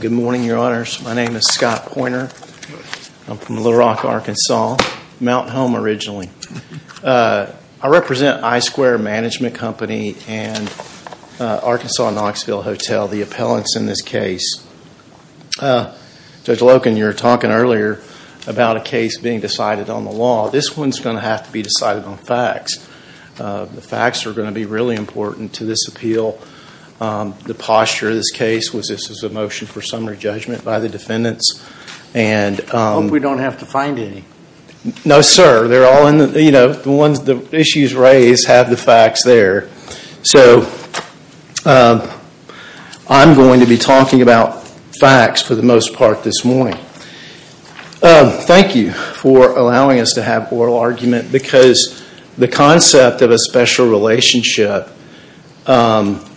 Good morning, Your Honors. My name is Scott Poynter. I'm from Little Rock, Arkansas, Mountain Home originally. I represent iSquare Management Company and Arkansas Knoxville Hotel, the appellants in this case. Judge Loken, you were talking earlier about a case being decided on the law. This one's going to have to be decided on facts. The facts are going to be really important to this appeal. The posture of this case was this was a motion for summary judgment by the defendants. I hope we don't have to find any. No, sir. The issues raised have the facts there. So I'm going to be talking about facts for the most part this morning. Thank you for allowing us to have oral argument because the concept of a special relationship, well,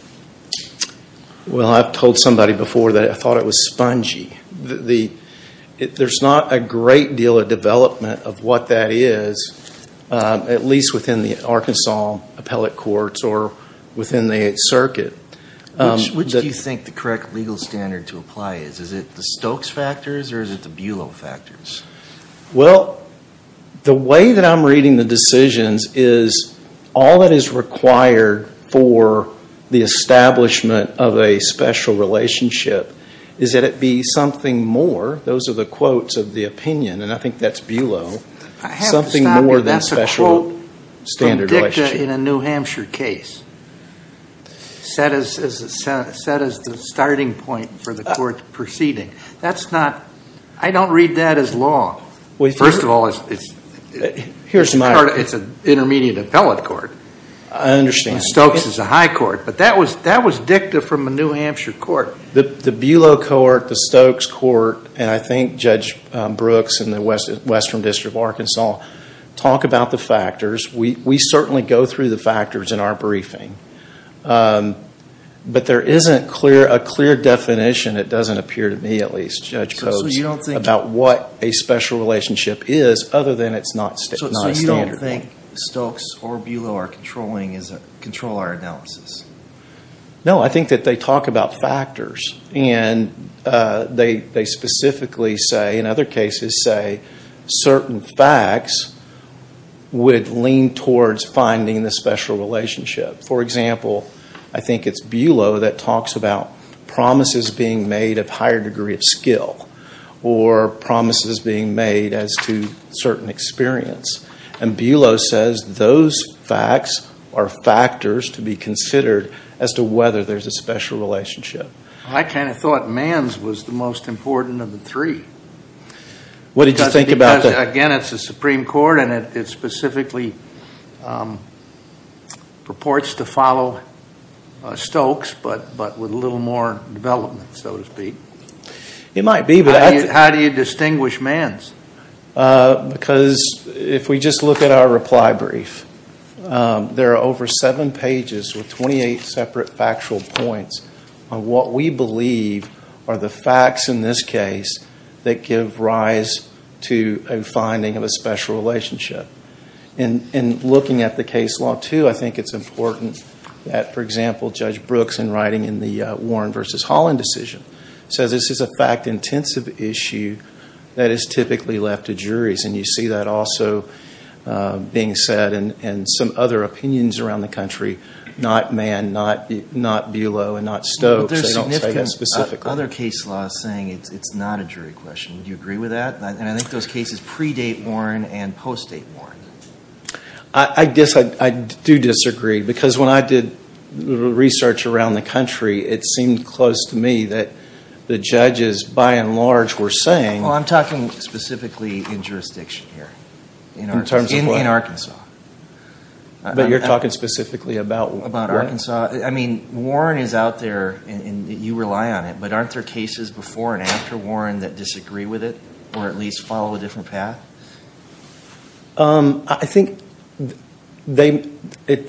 I've told somebody before that I thought it was spongy. There's not a great deal of development of what that is, at least within the Arkansas appellate courts or within the circuit. Which do you think the correct legal standard to apply is? Is it the Stokes factors or is it the Bulow factors? Well, the way that I'm reading the decisions is all that is required for the establishment of a special relationship is that it be something more, those are the quotes of the opinion, and I think that's Bulow, something more than special standard relationship. I have to stop you. That's a quote from Dicta in a New Hampshire case set as the starting point for the court proceeding. That's not, I don't read that as law. First of all, it's an intermediate appellate court. I understand. Stokes is a high court, but that was Dicta from a New Hampshire court. The Bulow court, the Stokes court, and I think Judge Brooks in the Western District of Arkansas talk about the factors. We certainly go through the factors in our briefing, but there isn't a clear definition, it doesn't appear to me at least, Judge Coates, about what a special relationship is other than it's not standard. So you don't think Stokes or Bulow are controlling, control our analysis? No, I think that they talk about factors and they specifically say, in other words, lean towards finding the special relationship. For example, I think it's Bulow that talks about promises being made of higher degree of skill, or promises being made as to certain experience. And Bulow says those facts are factors to be considered as to whether there's a special relationship. I kind of thought Mann's was the most important of the three. What did you think about that? Again, it's the Supreme Court and it specifically purports to follow Stokes, but with a little more development, so to speak. It might be, but I... How do you distinguish Mann's? Because if we just look at our reply brief, there are over seven pages with 28 separate factual points on what we believe are the facts in this case that give rise to a finding of a special relationship. And looking at the case law, too, I think it's important that, for example, Judge Brooks in writing in the Warren v. Holland decision says this is a fact-intensive issue that is typically left to juries. And you see that also being said, and some other opinions around the country, not Mann, not Bulow, and not Stokes. They don't say that specifically. But there's significant other case law saying it's not a jury question. Do you agree with that? And I think those cases predate Warren and post-date Warren. I do disagree, because when I did research around the country, it seemed close to me that the judges, by and large, were saying... Well, I'm talking specifically in jurisdiction here. In terms of what? In Arkansas. But you're talking specifically about what? About Arkansas. I mean, Warren is out there, and you rely on it, but aren't there cases before and after Warren that disagree with it, or at least follow a different path? I think they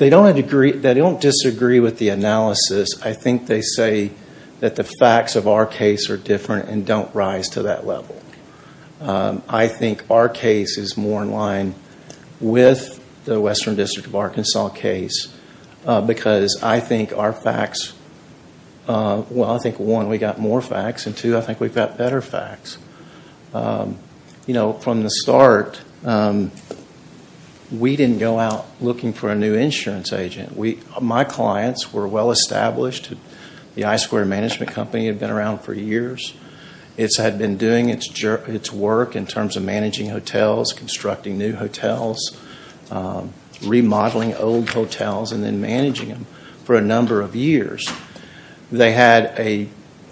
don't disagree with the analysis. I think they say that the facts of our case are different and don't rise to that level. I think our case is more in line with the Western District of Arkansas case, because I think our facts... Well, I think, one, we got more facts, and two, I think we've got better facts. From the start, we didn't go out looking for a new insurance agent. My clients were well-established. The I-Square Management Company had been around for years. It had been doing its work in terms of managing hotels, constructing new hotels, remodeling old hotels, and then managing them for a number of years. They had a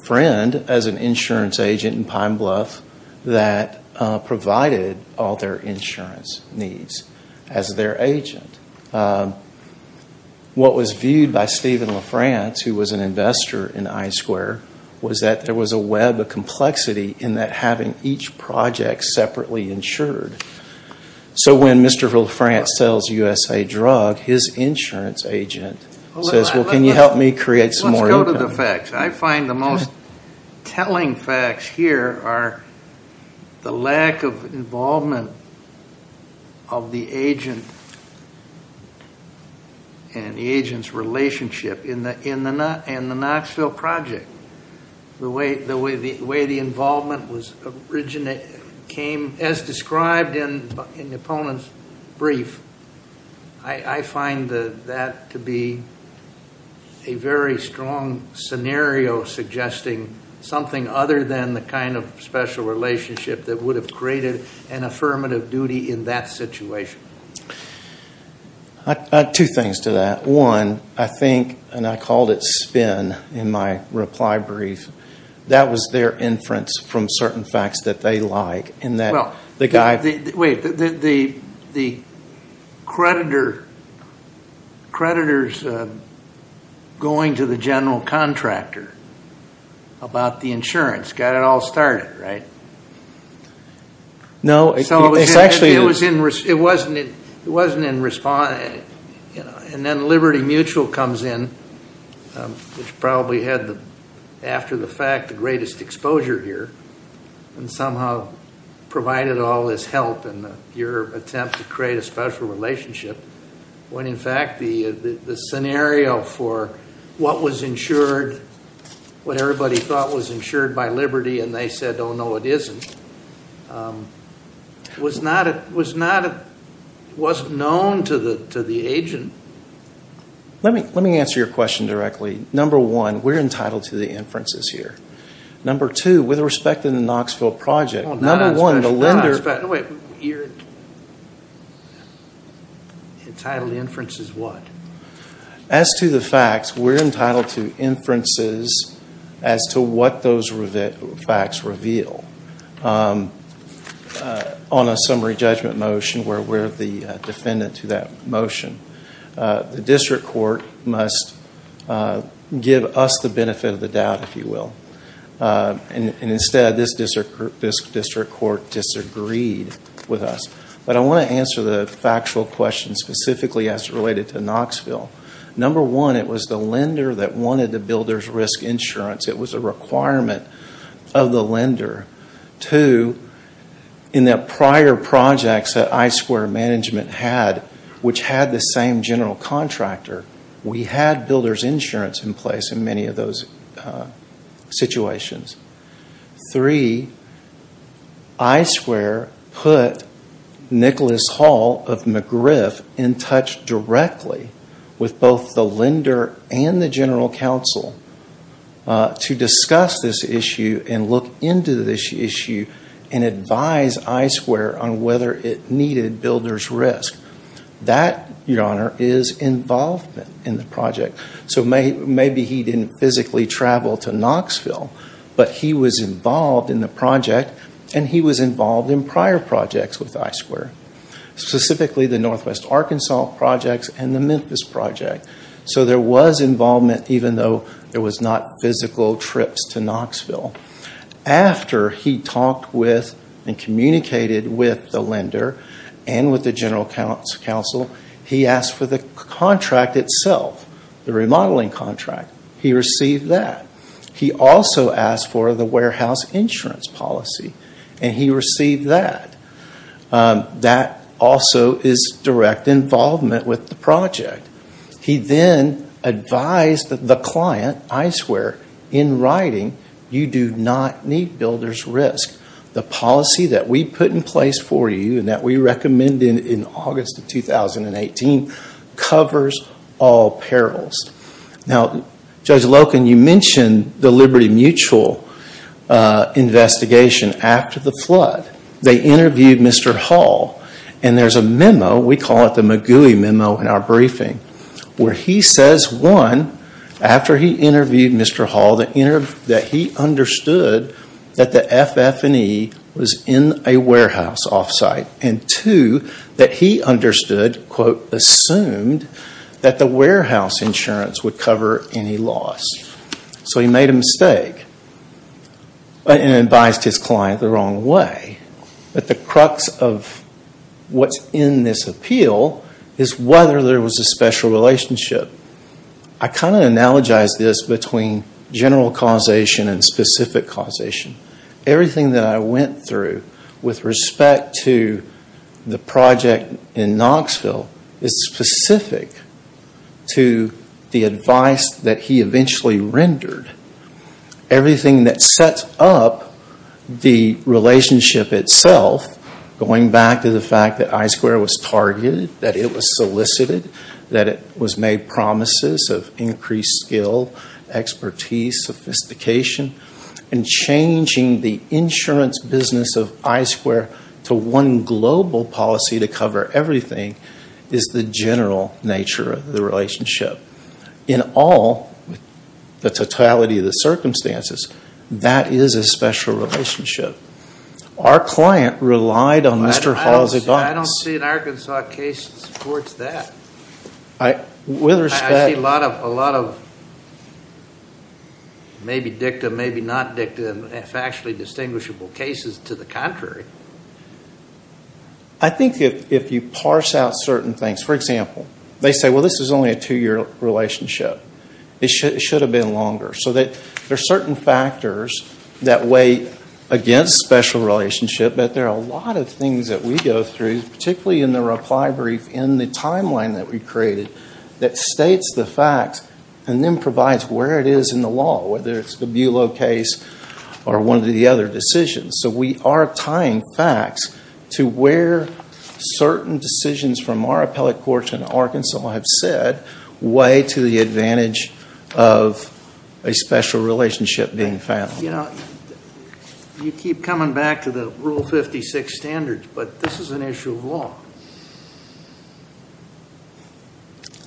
friend as an insurance agent in Pine Bluff that provided all their insurance needs as their agent. What was viewed by Stephen LaFrance, who was an investor in I-Square, was that there was a web of complexity in that having each project separately insured. So when Mr. LaFrance sells USA Drug, his insurance agent says, well, can you help me create some more income? Let's go to the facts. I find the most telling facts here are the lack of involvement of the agent and the agent's relationship in the Knoxville project. The way the involvement came, as described in the opponent's brief, I find that to be a very strong scenario suggesting something other than the kind of special relationship that would have created an affirmative duty in that situation. I have two things to that. One, I think, and I called it spin in my reply brief, that was their inference from certain facts that they like in that the guy... Wait, the creditor's going to the general contractor about the insurance got it all started, right? No, it's actually... It wasn't in response... And then Liberty Mutual comes in, which probably had, after the fact, the greatest exposure here, and somehow provided all this help in your attempt to create a special relationship, when in fact the scenario for what was insured, what everybody thought was insured by Liberty, and they said, oh, no, it isn't, was not at all. It wasn't known to the agent. Let me answer your question directly. Number one, we're entitled to the inferences here. Number two, with respect to the Knoxville project, number one, the lender... Wait, you're entitled to inferences what? As to the facts, we're entitled to inferences as to what those facts reveal on a summary judgment motion where we're the defendant to that motion. The district court must give us the benefit of the doubt, if you will, and instead, this district court disagreed with us. But I want to answer the factual question specifically as related to Knoxville. Number one, it was the lender that wanted the builder's risk insurance. It was a requirement of the lender. Two, in the prior projects that I-Square management had, which had the same general contractor, we had builder's insurance in place in many of those situations. Three, I-Square put Nicholas Hall of McGriff in touch directly with both the lender and the general counsel to discuss this issue and look into this issue and advise I-Square on whether it needed builder's risk. That, Your Honor, is involvement in the project. So maybe he didn't physically travel to Knoxville, but he was involved in the project and he was involved in prior projects with I-Square, specifically the Northwest Arkansas projects and the Memphis project. So there was involvement even though there was not physical trips to Knoxville. After he talked with and communicated with the lender and with the general counsel, he asked for the contract itself, the remodeling contract. He received that. He also asked for the warehouse insurance policy, and he received that. That also is direct involvement with the project. He then advised the client, I-Square, in writing, you do not need builder's risk. The policy that we put in place for you and that we recommended in August of 2018 covers all perils. Now, Judge Loken, you mentioned the Liberty Mutual investigation after the flood. They interviewed Mr. Hall, and there's a memo, we call it the McGooey memo in our briefing, where he says, one, after he interviewed Mr. Hall that he understood that the FF&E was in a warehouse off-site, and two, that he understood, quote, assumed that the warehouse insurance would cover any loss. So he made a mistake and advised his client the wrong way. But the crux of what's in this appeal is whether there was a special relationship. I kind of analogize this between general causation and specific causation. Everything that I went through with respect to the project in everything that sets up the relationship itself, going back to the fact that I-Square was targeted, that it was solicited, that it was made promises of increased skill, expertise, sophistication, and changing the insurance business of I-Square to one global policy to cover everything is the general nature of the relationship. In all, the totality of the circumstances, that is a special relationship. Our client relied on Mr. Hall's advice. I don't see an Arkansas case that supports that. With respect- I see a lot of maybe dicta, maybe not dicta, if actually distinguishable cases to the contrary. I think if you parse out certain things, for example, they say, well, this is only a two-year relationship. It should have been longer. So there are certain factors that weigh against special relationship, but there are a lot of things that we go through, particularly in the reply brief in the timeline that we created, that states the facts and then provides where it is in the law, whether it's the Bulow case or one of the other decisions. We are tying facts to where certain decisions from our appellate courts in Arkansas have said, way to the advantage of a special relationship being found. You keep coming back to the Rule 56 standards, but this is an issue of law.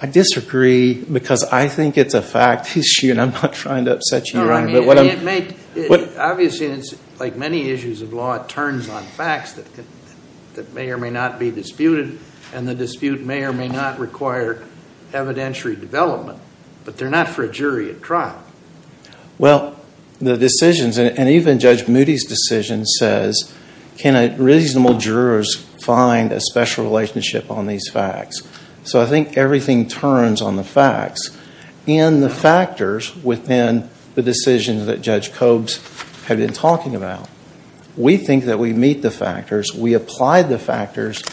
I disagree because I think it's a fact issue, and I'm not trying to upset you, Your Honor. Obviously, like many issues of law, it turns on facts that may or may not be disputed, and the dispute may or may not require evidentiary development, but they're not for a jury at trial. Well, the decisions, and even Judge Moody's decision says, can reasonable jurors find a special relationship on these facts? So I think everything turns on the facts, and the factors within the decisions that Judge Cobes had been talking about. We think that we meet the factors. We apply the factors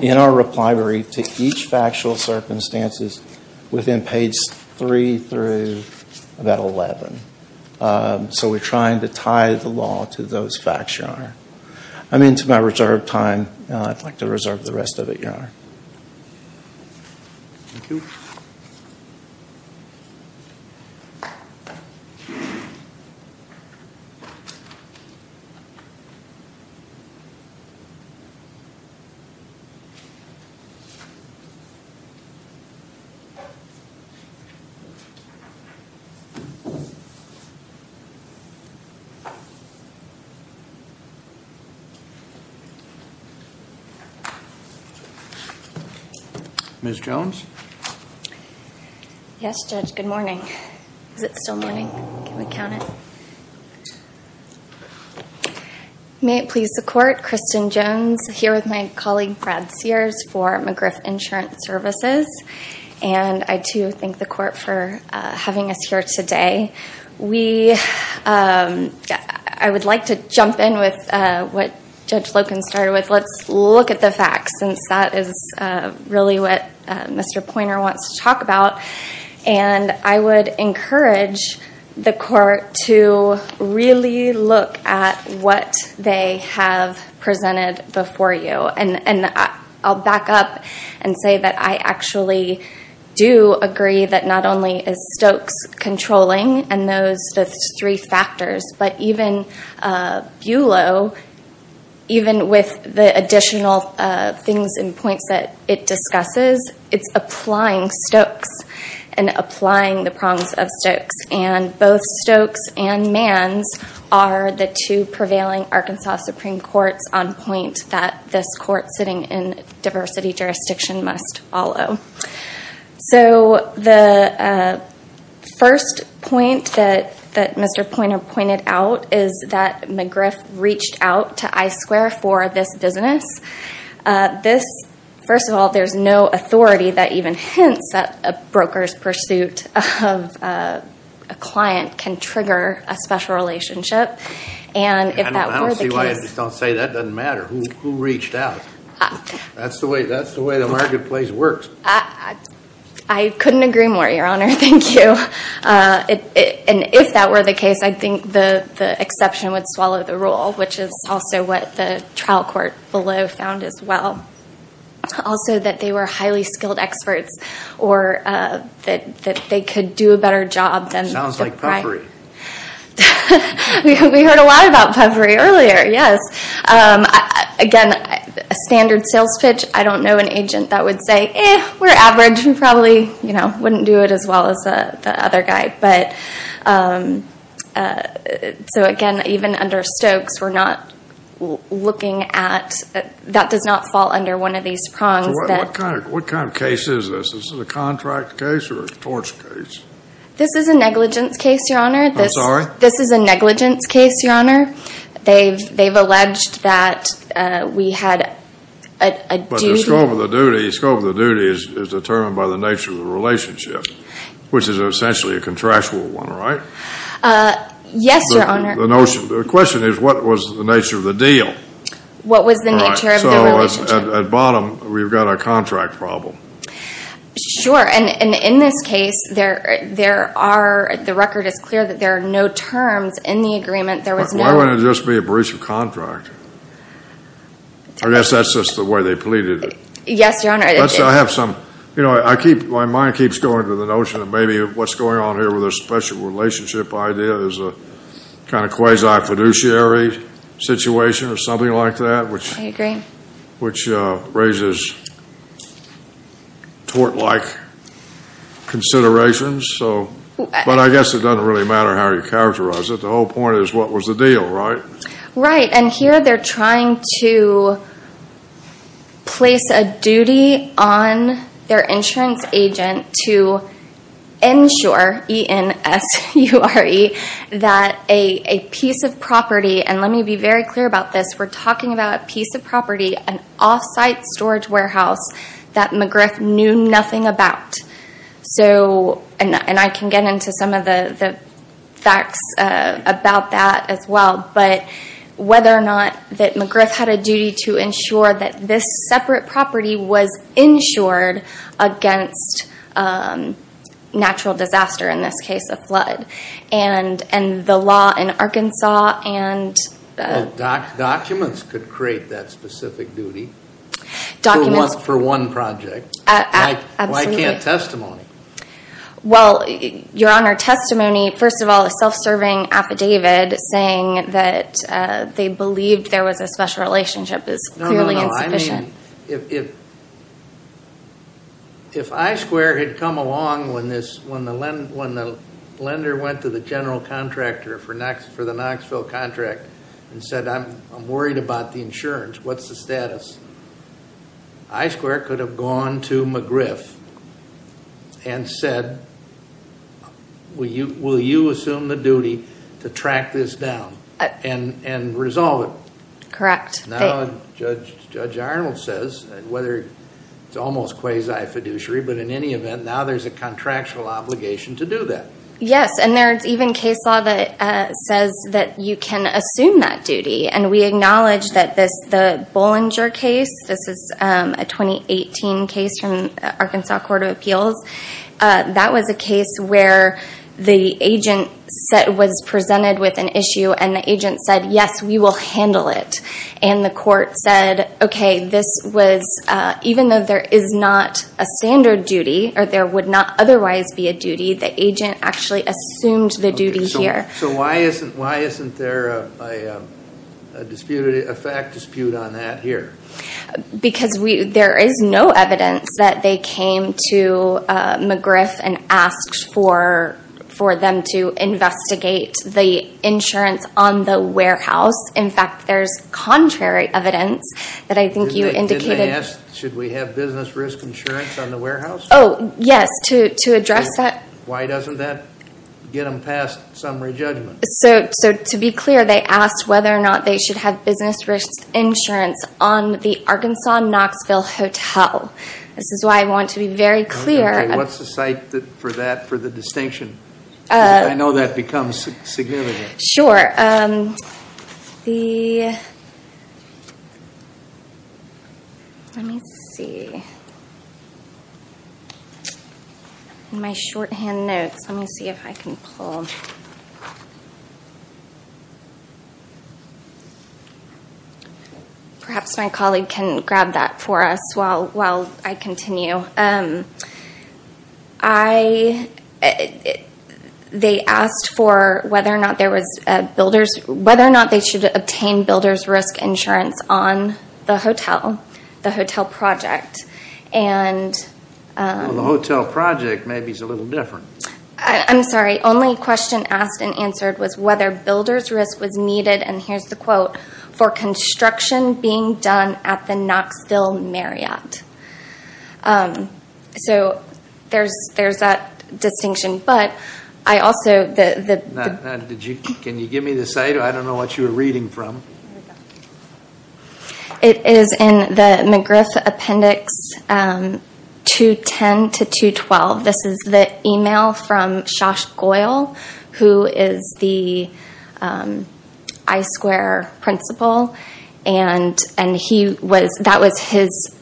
in our reply brief to each factual circumstances within page 3 through about 11. So we're trying to tie the law to those facts, Your Honor. I'm into my reserve time. I'd like to reserve the rest of it, Your Honor. Thank you. Yes, Judge, good morning. Is it still morning? Can we count it? May it please the Court, Kristen Jones here with my colleague Brad Sears for McGriff Insurance Services, and I, too, thank the Court for having us here today. I would like to jump in with what Judge Loken started with. Let's look at the facts, since that is really what Mr. Poynter wants to talk about. And I would encourage the Court to really look at what they have presented before you. And I'll back up and say that I actually do agree that not only is Stokes controlling, and those three factors, but even Buelow, even with the additional things and points that it discusses, it's applying Stokes and applying the prongs of Stokes. And both Stokes and Manns are the two prevailing Arkansas Supreme Courts on point that this Court sitting in diversity jurisdiction must follow. So the first point that Mr. Poynter pointed out is that McGriff reached out to Buelow to reach out to I-Square for this business. This, first of all, there's no authority that even hints that a broker's pursuit of a client can trigger a special relationship. And if that were the case... I don't see why I just don't say that. It doesn't matter. Who reached out? That's the way the marketplace works. I couldn't agree more, Your Honor. Thank you. And if that were the case, I think the exception would swallow the rule, which is also what the trial court Buelow found as well. Also that they were highly skilled experts or that they could do a better job than the client. Sounds like puffery. We heard a lot about puffery earlier, yes. Again, a standard sales pitch, I don't know an agent that would say, eh, we're average and probably wouldn't do it as well as the other guy. So again, even under Stokes, we're not looking at... that does not fall under one of these prongs. What kind of case is this? Is this a contract case or a torch case? This is a negligence case, Your Honor. I'm sorry? This is a negligence case, Your Honor. They've alleged that we had a duty... But the scope of the duty is determined by the nature of the relationship, which is essentially a contractual one, right? Yes, Your Honor. The question is, what was the nature of the deal? What was the nature of the relationship? At bottom, we've got a contract problem. Sure. And in this case, there are... the record is clear that there are no terms in the agreement. There was no... Why wouldn't it just be a breach of contract? I guess that's just the way they pleaded it. Yes, Your Honor. I have some... My mind keeps going to the notion that maybe what's going on here with a special relationship idea is a kind of quasi-fiduciary situation or something like that, which raises tort-like considerations. But I guess it doesn't really matter how you characterize it. The whole point is, what was the deal, right? Right. And here, they're trying to place a duty on their insurance agent to ensure, E-N-S-U-R-E, that a piece of property, and let me be very clear about this, we're talking about a piece of property, an off-site storage warehouse that McGriff knew nothing about. And I can get into some of the facts about that as well. But whether or not that McGriff had a duty to ensure that this separate property was insured against natural disaster, in this case, a flood. And the law in Arkansas and... Documents could create that specific duty for one project. Absolutely. I can't testimony. Well, your Honor, testimony, first of all, a self-serving affidavit saying that they believed there was a special relationship is clearly insufficient. No, no, no. I mean, if I-Square had come along when the lender went to the general contractor for the Knoxville contract and said, I'm worried about the insurance, what's the status? I-Square could have gone to McGriff and said, will you assume the duty to track this down and resolve it? Correct. Now, Judge Arnold says, whether it's almost quasi-fiduciary, but in any event, now there's a contractual obligation to do that. Yes, and there's even case law that says that you can assume that duty. And we acknowledge that the Bollinger case, this is a 2018 case from the Arkansas Court of Appeals. That was a case where the agent was presented with an issue and the agent said, yes, we will handle it. And the court said, okay, this was, even though there is not a standard duty or there would not otherwise be a duty, the agent actually assumed the duty here. So why isn't there a fact dispute on that here? Because there is no evidence that they came to McGriff and asked for them to investigate the insurance on the warehouse. In fact, there's contrary evidence that I think you indicated- Should we have business risk insurance on the warehouse? Oh, yes, to address that. Why doesn't that get them past summary judgment? To be clear, they asked whether or not they should have business risk insurance on the Arkansas Knoxville Hotel. This is why I want to be very clear- Okay, what's the site for that, for the distinction? I know that becomes significant. Sure. Let me see. In my shorthand, I'm going to say, Arkansas. Shorthand notes, let me see if I can pull. Perhaps my colleague can grab that for us while I continue. They asked for whether or not there was builders, whether or not they should obtain builder's risk insurance on the hotel, the hotel project. Well, the hotel project maybe is a little different. I'm sorry. Only question asked and answered was whether builder's risk was needed, and here's the quote, for construction being done at the Knoxville Marriott. There's that distinction, but I also- Can you give me the site? I don't know what you were reading from. Here we go. It is in the McGriff Appendix 210 to 212. This is the email from Shosh Goyle, who is the I-Square principal, and that was his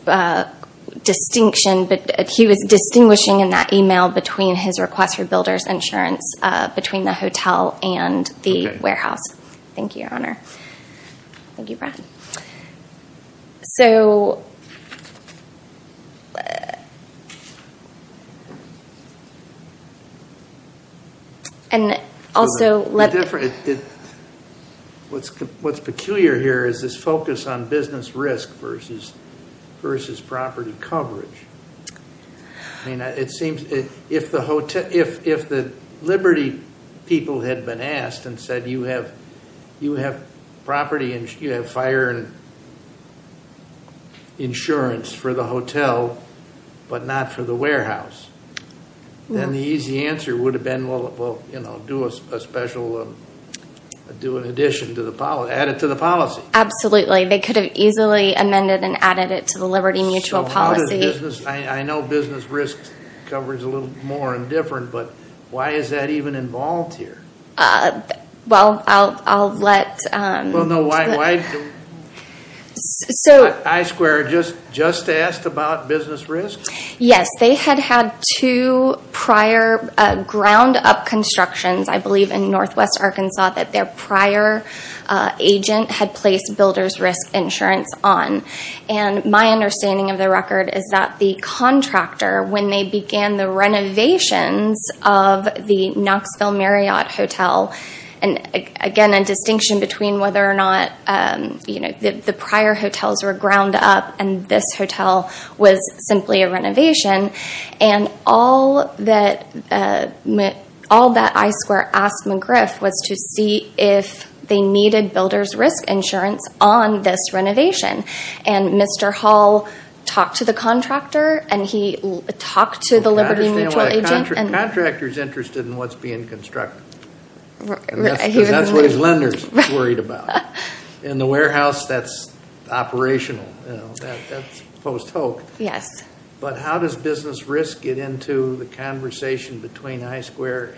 distinction, but he was distinguishing in that email between his request for builder's insurance between the hotel and the warehouse. Thank you, Your Honor. Thank you, Brad. What's peculiar here is this focus on business risk versus property coverage. It seems if the Liberty people had been asked and said, you have property, you have fire insurance for the hotel but not for the warehouse, then the easy answer would have been, well, do an addition to the policy, add it to the policy. Absolutely. They could have easily amended and added it to the Liberty mutual policy. I know business risk coverage is a little more indifferent, but why is that even involved here? Well, I'll let- Well, no. Why? I-Square just asked about business risk? Yes. They had had two prior ground-up constructions, I believe in Northwest Arkansas, that their prior agent had placed builder's risk insurance on. My understanding of the record is that the contractor, when they began the renovations of the Knoxville Marriott Hotel, and again a distinction between whether or not the prior hotels were ground up and this hotel was simply a renovation, and all that I-Square asked McGriff was to see if the contractor was willing if they needed builder's risk insurance on this renovation. Mr. Hall talked to the contractor and he talked to the Liberty Mutual agent- I understand why a contractor's interested in what's being constructed. That's what his lenders worried about. In the warehouse, that's operational. That's post-hoc. But how does business risk get into the conversation between I-Square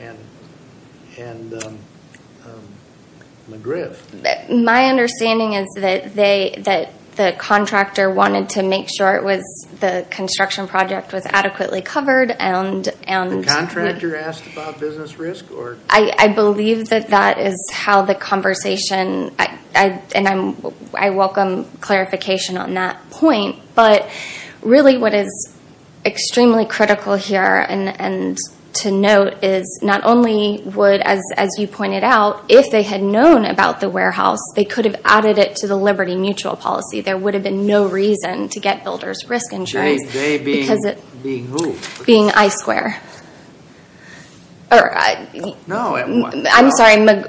and Liberty Mutual? McGriff? My understanding is that the contractor wanted to make sure the construction project was adequately covered. The contractor asked about business risk? I believe that that is how the conversation, and I welcome clarification on that point, but really what is extremely critical here and to note is not only would, as you pointed out, if they had known about the warehouse, they could have added it to the Liberty Mutual policy. There would have been no reason to get builder's risk insurance. They being who? Being I-Square. No. I'm sorry, if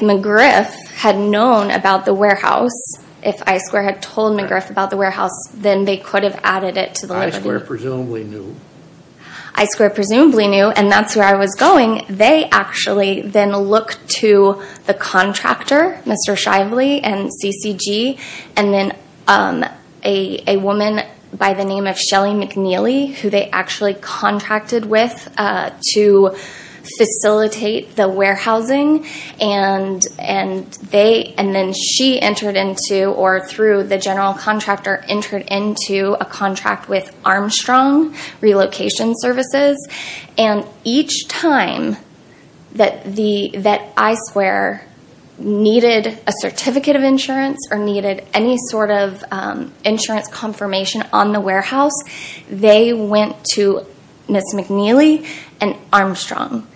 McGriff had known about the warehouse, if I-Square had told McGriff about the warehouse, then they could have added it to the Liberty Mutual. I-Square presumably knew. I-Square presumably knew, and that's where I was going. They actually then looked to the contractor, Mr. Shively and CCG, and then a woman by the name of Shelly McNeely, who they actually contracted with to facilitate the warehousing, and then she entered into, or through the general contractor, entered into a contract with Armstrong Relocation Services, and each time that I-Square needed a certificate of insurance or needed any sort of insurance confirmation on the warehouse, they went to Ms. McNeely and Armstrong,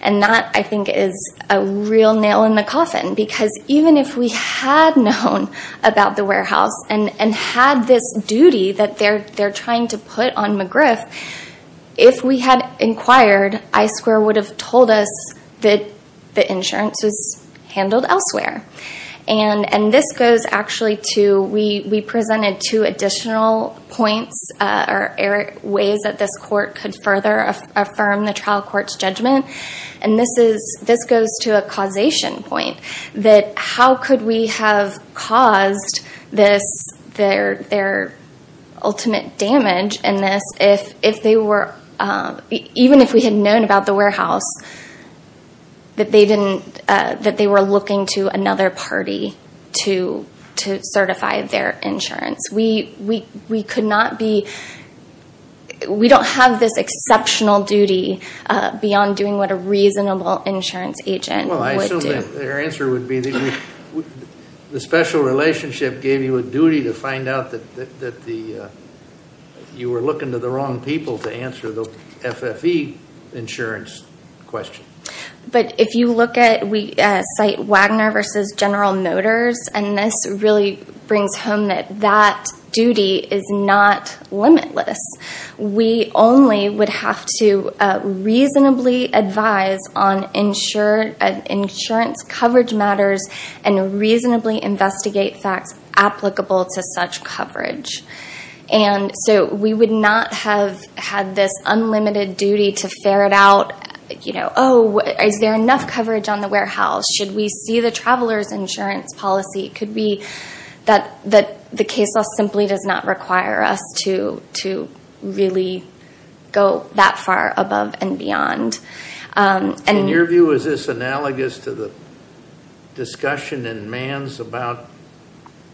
and that, I think, is a real nail in the coffin because even if we had known about the warehouse and had this duty that they're trying to put on McGriff, if we had inquired, I-Square would have told us that the insurance was handled elsewhere, and this goes actually to, we presented two additional points or ways that this court could further affirm the trial court's judgment, and this goes to a causation point that how could we have caused this, their ultimate damage in this, if they were, even if we had known about the warehouse, that they were looking to another party to certify their insurance. We could not be, we don't have this exceptional duty beyond doing what a special relationship gave you a duty to find out that you were looking to the wrong people to answer the FFE insurance question. But if you look at, we cite Wagner v. General Motors, and this really brings home that that duty is not limitless. We only would have to reasonably advise on insurance coverage matters, and reasonably investigate facts applicable to such coverage. And so we would not have had this unlimited duty to ferret out, you know, oh, is there enough coverage on the warehouse? Should we see the traveler's insurance policy? Could we, that the case law simply does not require us to really go that far above and beyond. In your view, is this analogous to the discussion in Mann's about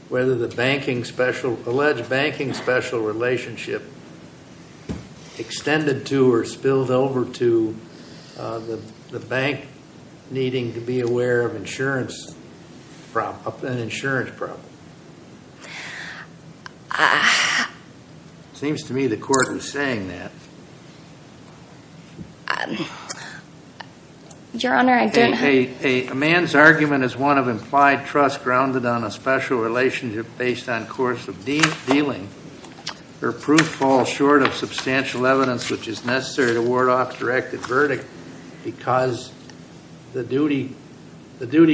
whether the banking special, alleged banking special relationship extended to or spilled over to the bank needing to be aware of insurance, an insurance problem? It seems to me the court was saying that. Your Honor, I don't have. A Mann's argument is one of implied trust grounded on a special relationship based on course of dealing, where proof falls short of substantial evidence which is necessary to ward off directed verdict because the duty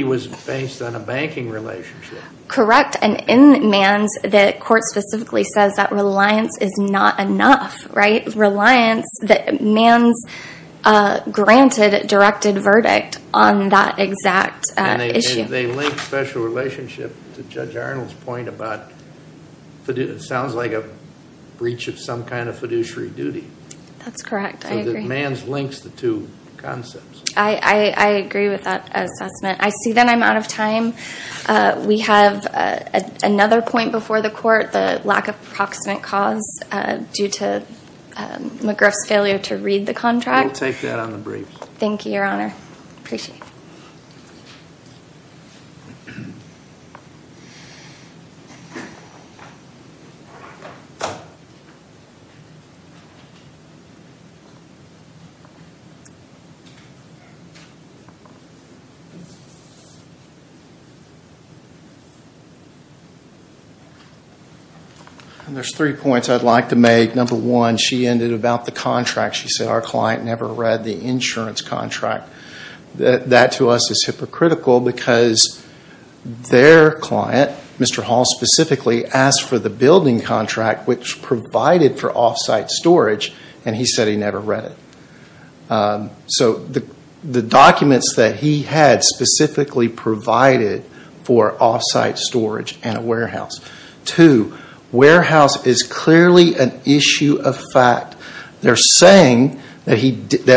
was based on a banking relationship. Correct and in Mann's, the court specifically says that reliance is not enough, right? Reliance that Mann's granted directed verdict on that exact issue. And they link special relationship to Judge Arnold's point about, it sounds like a breach of some kind of fiduciary duty. That's correct, I agree. Mann's links the two concepts. I agree with that assessment. I see that I'm out of time. We have another point before the court, the lack of proximate cause due to McGriff's failure to read the contract. We'll take that on the brief. Thank you, Your Honor. Appreciate it. There's three points I'd like to make. Number one, she ended about the contract. She said our client never read the insurance contract. That to us is hypocritical because their client, Mr. Hall specifically, asked for the building contract which provided for offsite storage and he said he never read it. So, the documents that he had specifically provided for offsite storage and a warehouse. Two, warehouse is clearly an issue of fact. They're saying that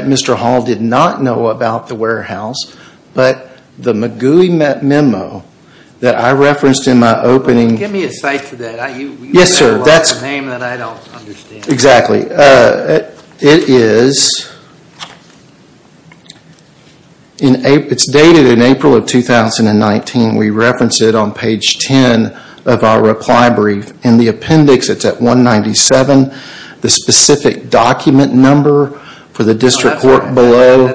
Mr. Hall did not know about the warehouse but the McGooey memo that I referenced in my opening... Give me a cite for that. You said a lot of names that I don't understand. Exactly. It's dated in April of 2019. We referenced it on page 10 of our reply brief. In the appendix it's at 197, the specific document number for the district work below.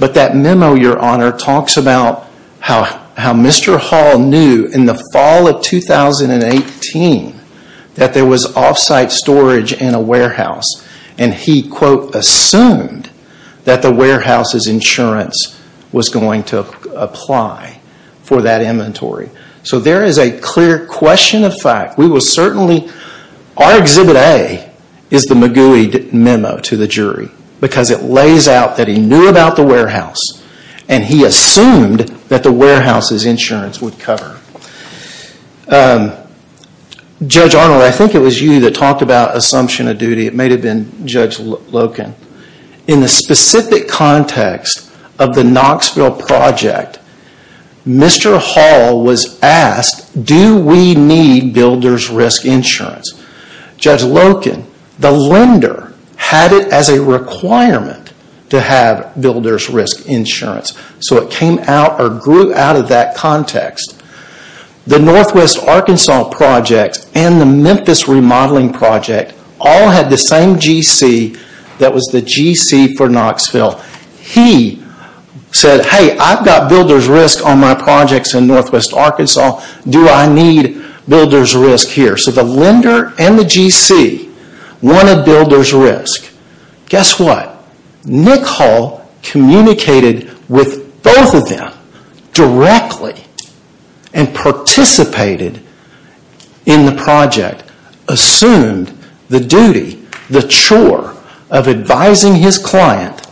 But that memo, Your Honor, talks about how Mr. Hall knew in the fall of 2018 that there was offsite storage in a warehouse and he, quote, assumed that the warehouse's insurance was going to apply for that inventory. So there is a clear question of fact. Our Exhibit A is the McGooey memo to the jury because it lays out that he knew about the warehouse and he assumed that the warehouse's insurance would cover. Judge Arnold, I think it was you that talked about assumption of duty. It may have been Judge Loken. In the specific context of the Knoxville project, Mr. Hall was asked, do we need builder's risk insurance? Judge Loken, the lender, had it as a requirement to have builder's risk insurance. So it came out or grew out of that context. The Northwest Arkansas project and the Memphis remodeling project all had the same GC that was the GC for Knoxville. He said, hey, I've got builder's risk on my projects in Northwest Arkansas. Do I need builder's risk here? So the lender and the GC wanted builder's risk. Guess what? Nick Hall communicated with both of them directly and participated in the project, assumed the duty, the chore of advising his client,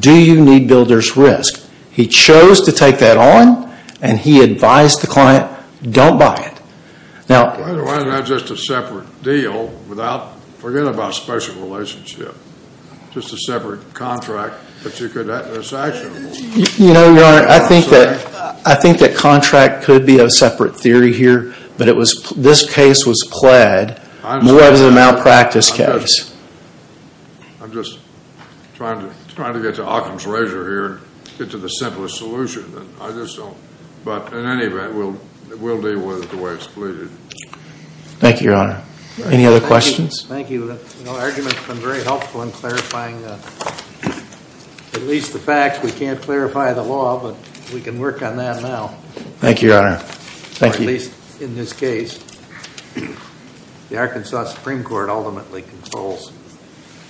do you need builder's risk? He chose to take that on and he advised the client, don't buy it. Now, why is that just a separate deal without, forget about special relationship, just a separate contract that you could have this actionable? You know, Your Honor, I think that contract could be a separate theory here, but it was, this case was pled more than a malpractice case. I'm just trying to get to Occam's Razor here and get to the simplest solution. I just don't, but in any event, we'll deal with it the way it's pleaded. Thank you, Your Honor. Any other questions? Thank you. The argument's been very helpful in clarifying at least the facts. We can't clarify the law, but we can work on that now. Thank you, Your Honor. Thank you. Or at least in this case, the Arkansas Supreme Court ultimately controls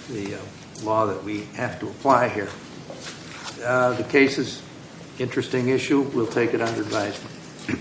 the law that we take it under advisement.